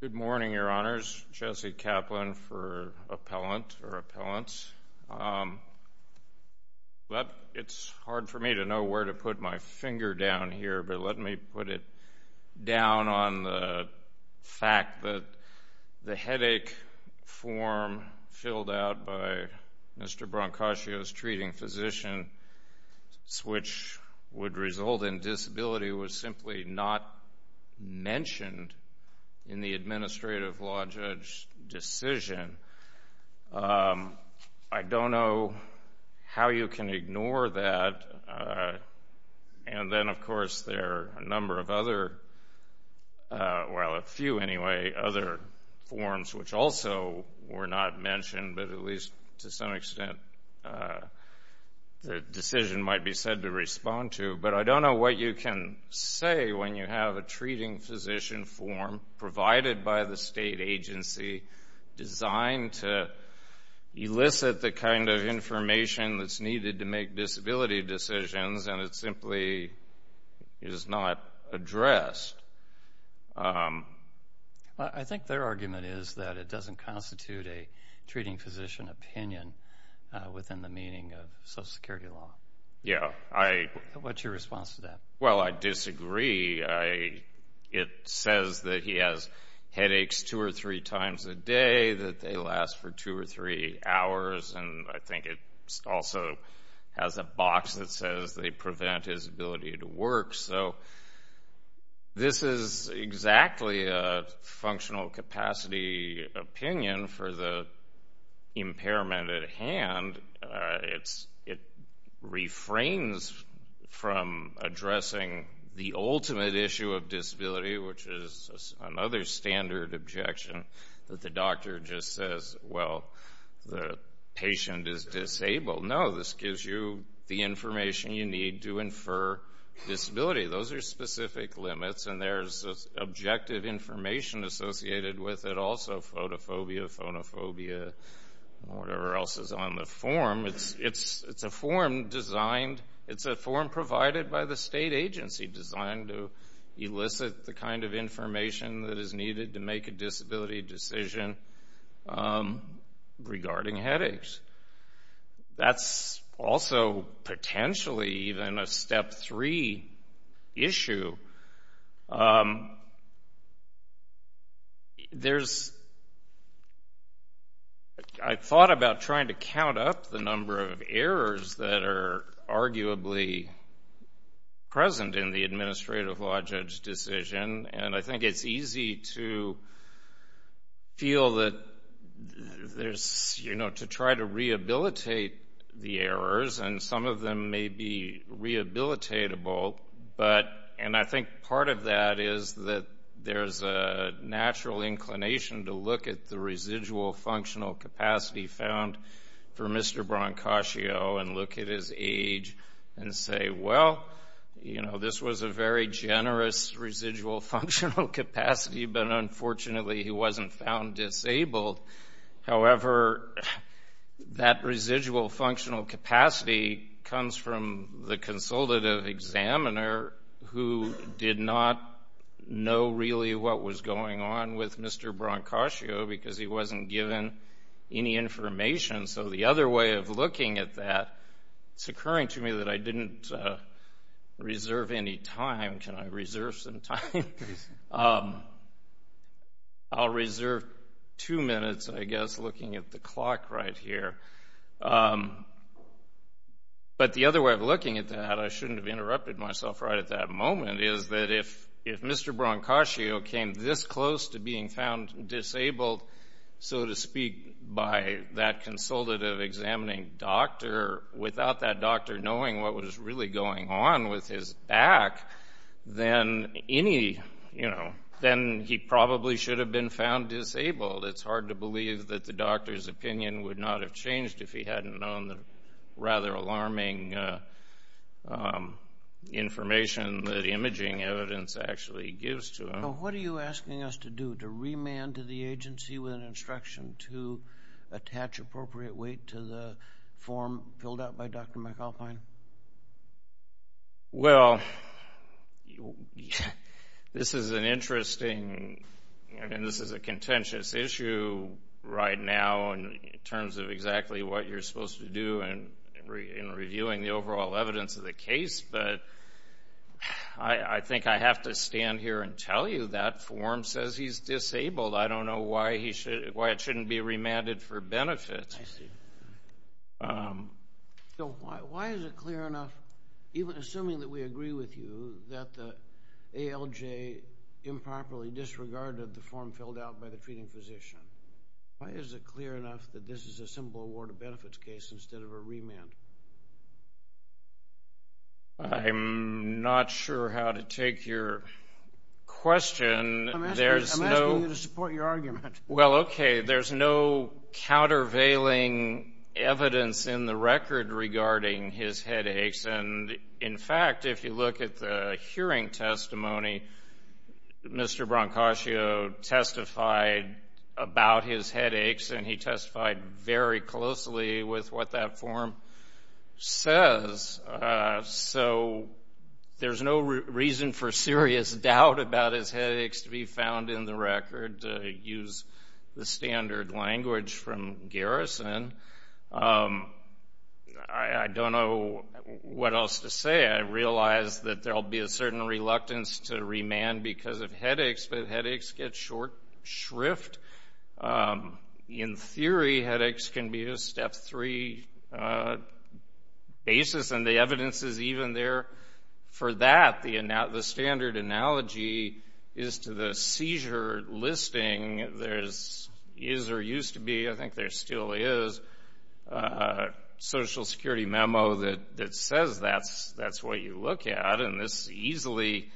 Good morning, Your Honors. Jesse Kaplan for Appellants. It's hard for me to know where to put my finger down here, but let me put it down on the fact that the headache form filled out by Mr. Brancaccio's treating physician, which would result in disability, was simply not mentioned in the administrative law judge decision. I don't know how you can ignore that. And then, of course, there are a number of other, well, a few anyway, other forms which also were not mentioned, but at least to some extent the decision might be said to respond to, but I don't know what you can say when you have a treating physician form provided by the state agency designed to elicit the kind of information that's needed to make disability decisions and it simply is not addressed. I think their argument is that it doesn't constitute a treating physician opinion within the meaning of Social Security law. What's your response to that? Well, I disagree. It says that he has headaches two or three times a day, that they last for two or three hours, and I think it also has a box that says they prevent his ability to It refrains from addressing the ultimate issue of disability, which is another standard objection that the doctor just says, well, the patient is disabled. No, this gives you the information you need to infer disability. Those are specific limits and there's objective information associated with it also, photophobia, phonophobia, whatever else is on the form. It's a form designed, it's a form provided by the state agency designed to elicit the kind of information that is needed to make a disability decision regarding headaches. That's also potentially even a There's, I thought about trying to count up the number of errors that are arguably present in the administrative law judge decision and I think it's easy to feel that there's, you know, to try to rehabilitate the errors and some of them may be rehabilitatable, but, and I think part of that is that there's a natural inclination to look at the residual functional capacity found for Mr. Brancaccio and look at his age and say, well, you know, this was a very generous residual functional capacity, but unfortunately he wasn't found disabled. However, that residual functional capacity comes from the consultative examiner who did not know really what was going on with Mr. Brancaccio because he wasn't given any information. So the other way of looking at that, it's occurring to me that I didn't reserve any time. Can I reserve some time? I'll reserve two minutes, I guess, looking at the clock right here. But the other way of looking at that, I shouldn't have interrupted myself right at that moment, is that if Mr. Brancaccio came this close to being found disabled, so to speak, by that consultative examining doctor without that doctor knowing what was really going on with his back, then any, you know, then he probably should have been found disabled. It's hard to believe that the doctor's opinion would not have changed if he hadn't known the rather alarming information that imaging evidence actually gives to him. So what are you asking us to do, to remand to the agency with an instruction to attach appropriate weight to the form filled out by Dr. McAlpine? Well, this is an interesting, I mean, this is a contentious issue right now in terms of exactly what you're supposed to do in reviewing the overall evidence of the case. But I think I have to stand here and tell you that form says he's disabled. I don't know why it shouldn't be remanded for benefit. I see. So why is it clear enough, even assuming that we agree with you, that the ALJ improperly disregarded the form filled out by the treating physician? Why is it clear enough that this is a simple award of benefits case instead of a remand? I'm not sure how to take your question. I'm asking you to support your argument. Well, okay. There's no countervailing evidence in the record regarding his headaches. And in fact, if you look at the hearing testimony, Mr. Brancaccio testified about his headaches and he testified very closely with what that form says. So there's no reason for serious doubt about his headaches to be found in the record to use the standard language from Garrison. I don't know what else to say. I realize that there'll be a certain reluctance to remand because of headaches, but headaches get short shrift. In theory, headaches can be a step three basis, and the evidence is even there for that. The standard analogy is to the seizure listing. There is, or used to be, I think there still is, a Social Security memo that says that's what you look at. And this easily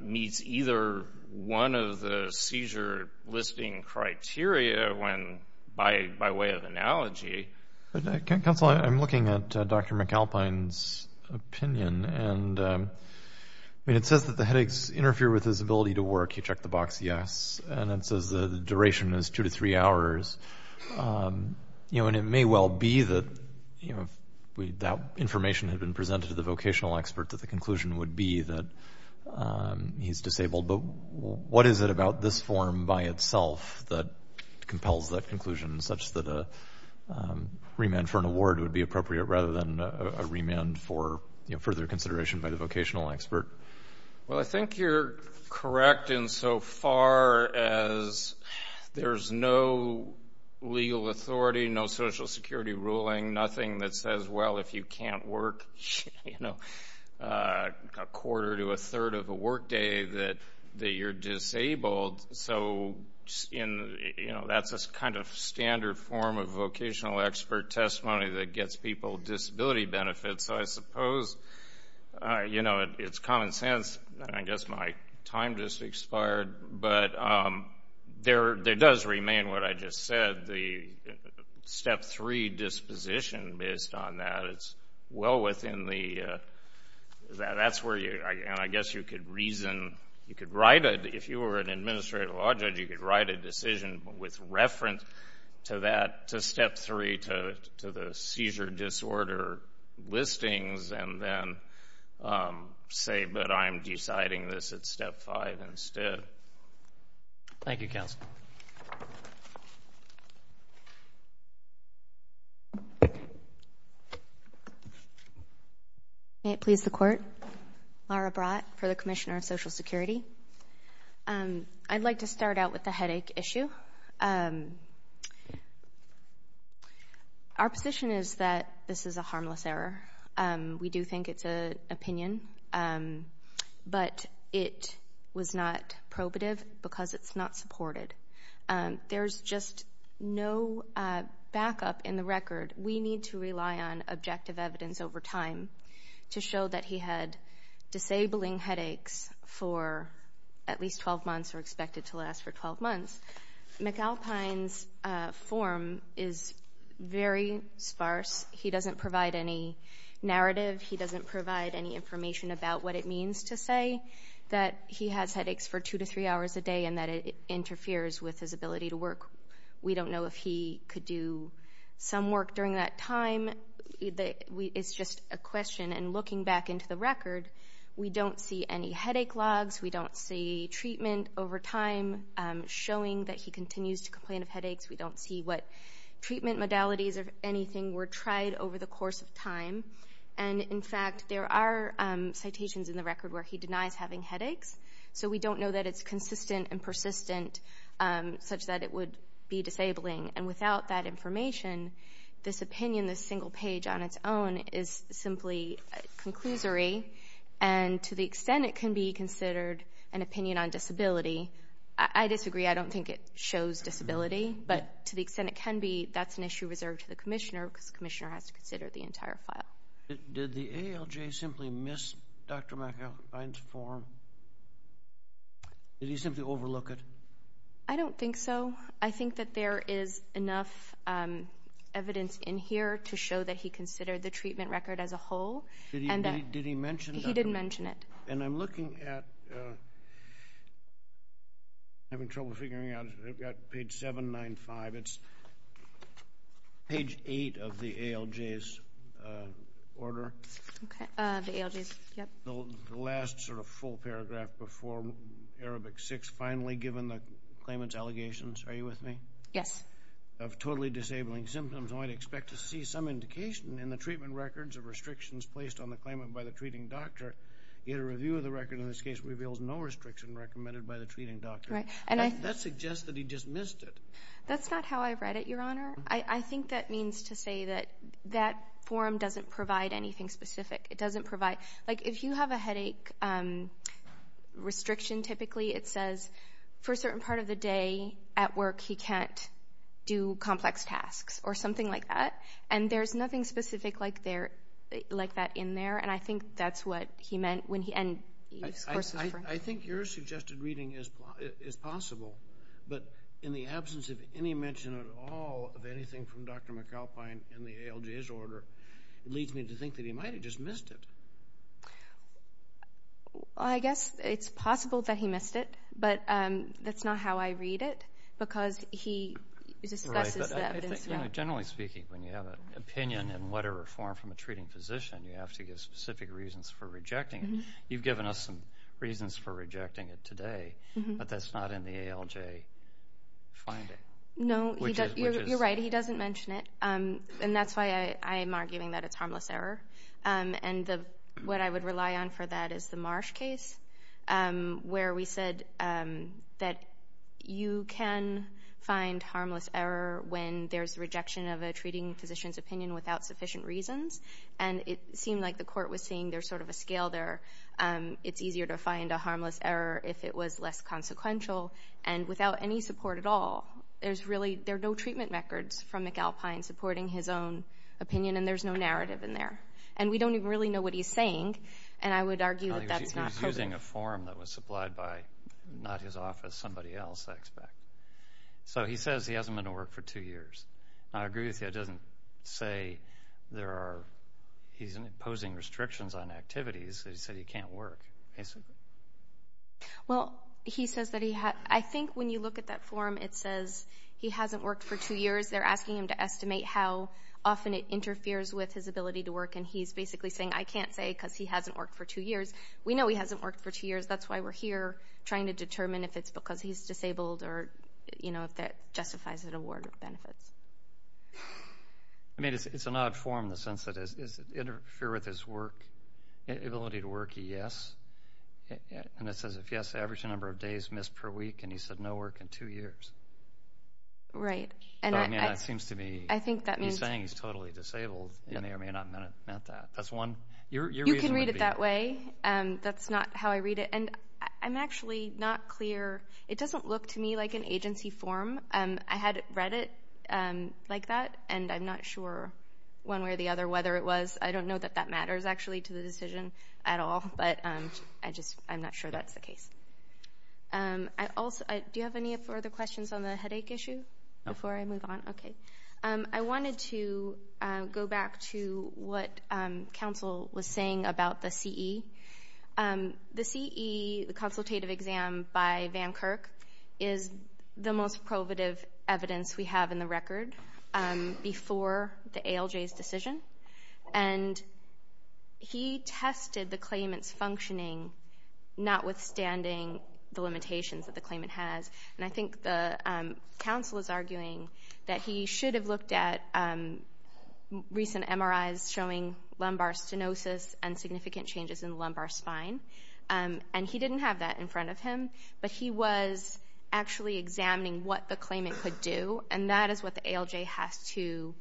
meets either one of the seizure listing criteria when, by way of analogy. Counsel, I'm looking at Dr. McAlpine's opinion, and it says that the headaches interfere with his ability to work. He checked the box, yes. And it says the duration is two to three hours. You know, and it may well be that, you know, if that information had been presented to the vocational expert, that the conclusion would be that he's disabled. But what is it about this form by itself that compels that conclusion, such that a remand for an award would be appropriate, rather than a remand for further consideration by the vocational expert? Well, I think you're correct insofar as there's no legal authority, no Social Security ruling, nothing that says, well, if you can't work, you know, a quarter to a third of a workday that you're disabled. So, you know, that's a kind of standard form of vocational expert testimony that gets people disability benefits. So I suppose, you know, it's common sense. I guess my time just expired. But there does remain what I just said, the step three disposition based on that. It's well within the, that's where you, and I guess you could reason, you could write it, if you were an administrative law judge, you could write a decision with reference to that, to step three, to the seizure disorder listings, and then say, but I'm deciding this at step five instead. Thank you, Counsel. May it please the Court. Mara Bratt for the Commissioner of Social Security. I'd like to start out with the headache issue. Our position is that this is a harmless error. We do think it's an opinion, but it was not probative because it's not supported. There's just no backup in the record. We need to rely on objective evidence over time to show that he had disabling headaches for at least 12 months or expected to last for 12 months. McAlpine's form is very sparse. He doesn't provide any narrative. He doesn't provide any information about what it means to say that he has headaches for two to three hours a day and that it interferes with his ability to work. We don't know if he could do some work during that time. It's just a question. And looking back into the record, we don't see any headache logs. We don't see treatment over time showing that he continues to complain of headaches. We don't see what treatment modalities or anything were tried over the course of time. And in fact, there are citations in the record where he denies having headaches. So we don't know that it's consistent and persistent such that it would be disabling. And without that information, this opinion, this single page on its own, is simply a conclusory. And to the extent it can be considered an opinion on disability, I disagree. I don't think it shows disability. But to the extent it can be, that's an issue reserved to the commissioner because the commissioner has to consider the entire file. Did the ALJ simply miss Dr. McAlpine's form? Did he simply overlook it? I don't think so. I think that there is enough evidence in here to show that he considered the treatment record as a whole. Did he mention Dr. McAlpine? He did mention it. And I'm looking at, having trouble figuring out, I've got page 795. It's page 8 of the ALJ's order. Okay, the ALJ's, yep. The last sort of full paragraph before Arabic 6, finally given the claimant's allegations, are you with me? Yes. Of totally disabling symptoms. I expect to see some indication in the treatment records of restrictions placed on the claimant by the treating doctor. Yet a review of the record in this case reveals no restriction recommended by the treating doctor. That suggests that he dismissed it. That's not how I read it, Your Honor. I think that means to say that that form doesn't provide anything specific. It doesn't provide, like if you have a headache restriction typically, it says for a certain part of the day at work he can't do complex tasks or something like that. And there's nothing specific like that in there. And I think that's what he meant. I think your suggested reading is possible. But in the absence of any mention at all of anything from Dr. McAlpine in the ALJ's order, it leads me to think that he might have just missed it. I guess it's possible that he missed it. But that's not how I read it. Because he generally speaking, when you have an opinion in letter or form from a treating physician, you have to give specific reasons for rejecting it. You've given us some reasons for rejecting it today. But that's not in the ALJ finding. No, you're right. He doesn't mention it. And that's why I'm arguing that it's harmless error. And what I would rely on for that is the Marsh case where we said that you can find harmless error when there's rejection of a treating physician's opinion without sufficient reasons. And it seemed like the court was seeing there's sort of a scale there. It's easier to find a harmless error if it was less consequential. And without any support at all, there's really, there are no treatment records from McAlpine supporting his own opinion. And there's no narrative in there. And we don't even really know what he's saying. And I would argue that that's not correct. He's using a form that was supplied by not his office, somebody else, I expect. So he says he hasn't been to work for two years. I agree with you. It doesn't say there are, he's imposing restrictions on activities. He said he can't work, basically. Well, he says that he, I think when you look at that form, it says he hasn't worked for two years. They're asking him to estimate how often it interferes with his ability to work. And he's basically saying, I can't say because he hasn't worked for two years. We know he hasn't worked for two years. That's why we're here, trying to determine if it's because he's disabled or, you know, if that justifies an award or benefits. I mean, it's an odd form in the sense that does it interfere with his work, ability to work? Yes. And it says, if yes, average number of days missed per week. And he said no work in two years. Right. And that seems to me, I think that means saying he's totally disabled. Yeah, I mean, I meant that. That's one. You can read it that way. And that's not how I read it. And I'm actually not clear. It doesn't look to me like an agency form. I had read it like that. And I'm not sure one way or the other, whether it was, I don't know that that matters actually to the decision at all. But I just, I'm not sure that's the case. I also, do you have any further questions on the headache issue before I move on? Okay. I wanted to go back to what counsel was saying about the CE. The CE, the consultative exam by Van Kirk is the most He tested the claimant's functioning, notwithstanding the limitations that the claimant has. And I think the counsel is arguing that he should have looked at recent MRIs showing lumbar stenosis and significant changes in lumbar spine. And he didn't have that in front of him. But he was actually examining what the claimant could do. And that is what the ALJ has to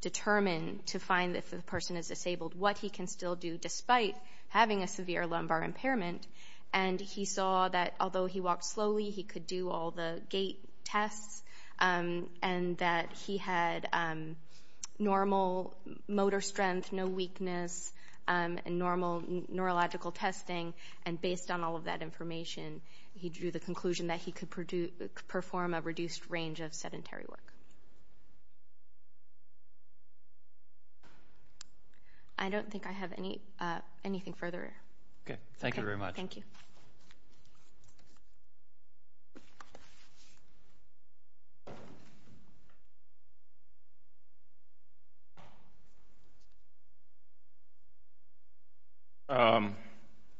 determine to find if the person is disabled, what he can still do despite having a severe lumbar impairment. And he saw that although he walked slowly, he could do all the gait tests. And that he had normal motor strength, no weakness, and normal neurological testing. And based on all of that information, he drew the conclusion that he could perform a reduced range of sedentary work. I don't think I have anything further. Okay. Thank you very much. Thank you.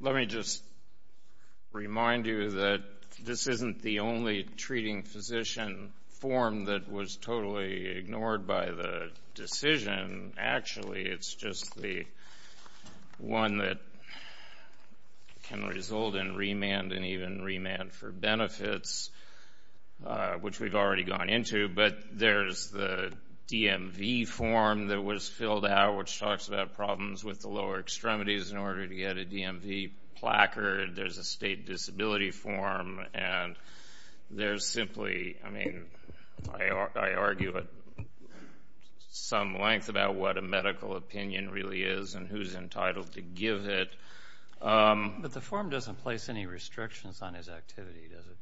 Let me just remind you that this isn't the only treating physician form that was totally ignored by the decision. Actually, it's just the one that can result in remand and even gone into. But there's the DMV form that was filled out which talks about problems with the lower extremities in order to get a DMV placard. There's a state disability form. And there's simply, I mean, I argue at some length about what a medical opinion really is and who's entitled to give it. But the form doesn't place any restrictions on his activity, does it?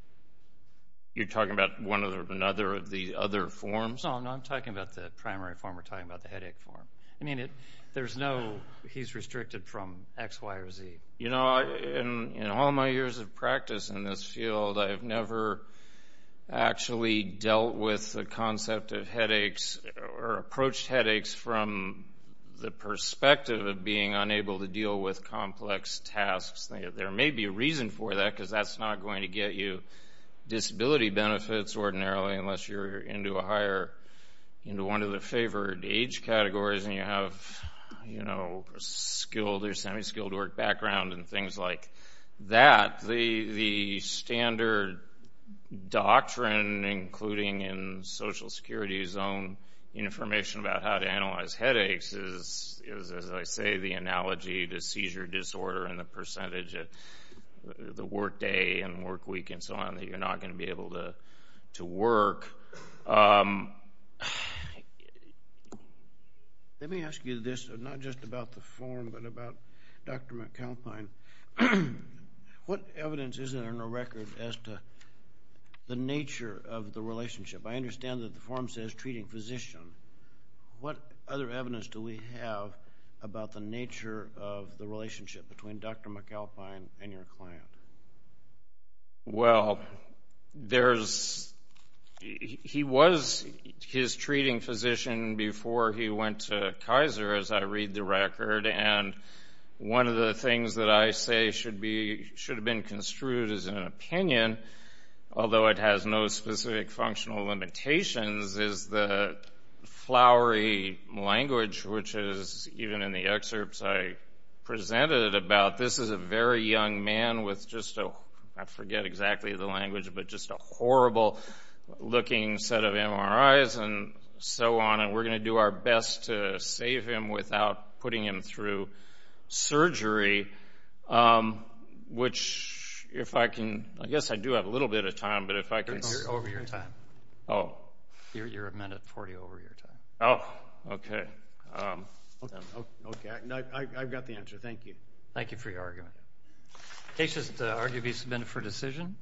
You're talking about one or another of the other forms? No, I'm talking about the primary form. We're talking about the headache form. I mean, there's no, he's restricted from X, Y, or Z. You know, in all my years of practice in this field, I've never actually dealt with the concept of headaches or approached headaches from the perspective of being unable to deal with complex tasks. There may be a reason for that because that's not going to get you disability benefits ordinarily unless you're into a higher, into one of the favored age categories and you have, you know, skilled or semi-skilled work background and things like that. The standard doctrine, including in Social Security's own information about how to analyze headaches is, as I say, the analogy to seizure disorder and the percentage of the work day and work week and so on that you're not going to be able to work. Let me ask you this, not just about the form, but about Dr. McAlpine. What evidence is there in the record as to the nature of the relationship? I understand that the form says treating physician. What other evidence do we have about the nature of the relationship between Dr. McAlpine and your client? Well, there's, he was his treating physician before he went to Kaiser, as I read the record, and one of the things that I say should be, should have been construed as an opinion, although it has no specific functional limitations, is the flowery language which is, even in the excerpts I presented about, this is a very young man with just a, I forget exactly the language, but just a horrible looking set of MRIs and so on, and we're going to do our best to save him without putting him through surgery, which, if I can, I guess I do have a little bit of time, but if I can... You're over your time. Oh. You're a minute 40 over your time. Oh, okay. Okay, I've got the answer. Thank you. Thank you for your argument. Case just argued be submitted for decision.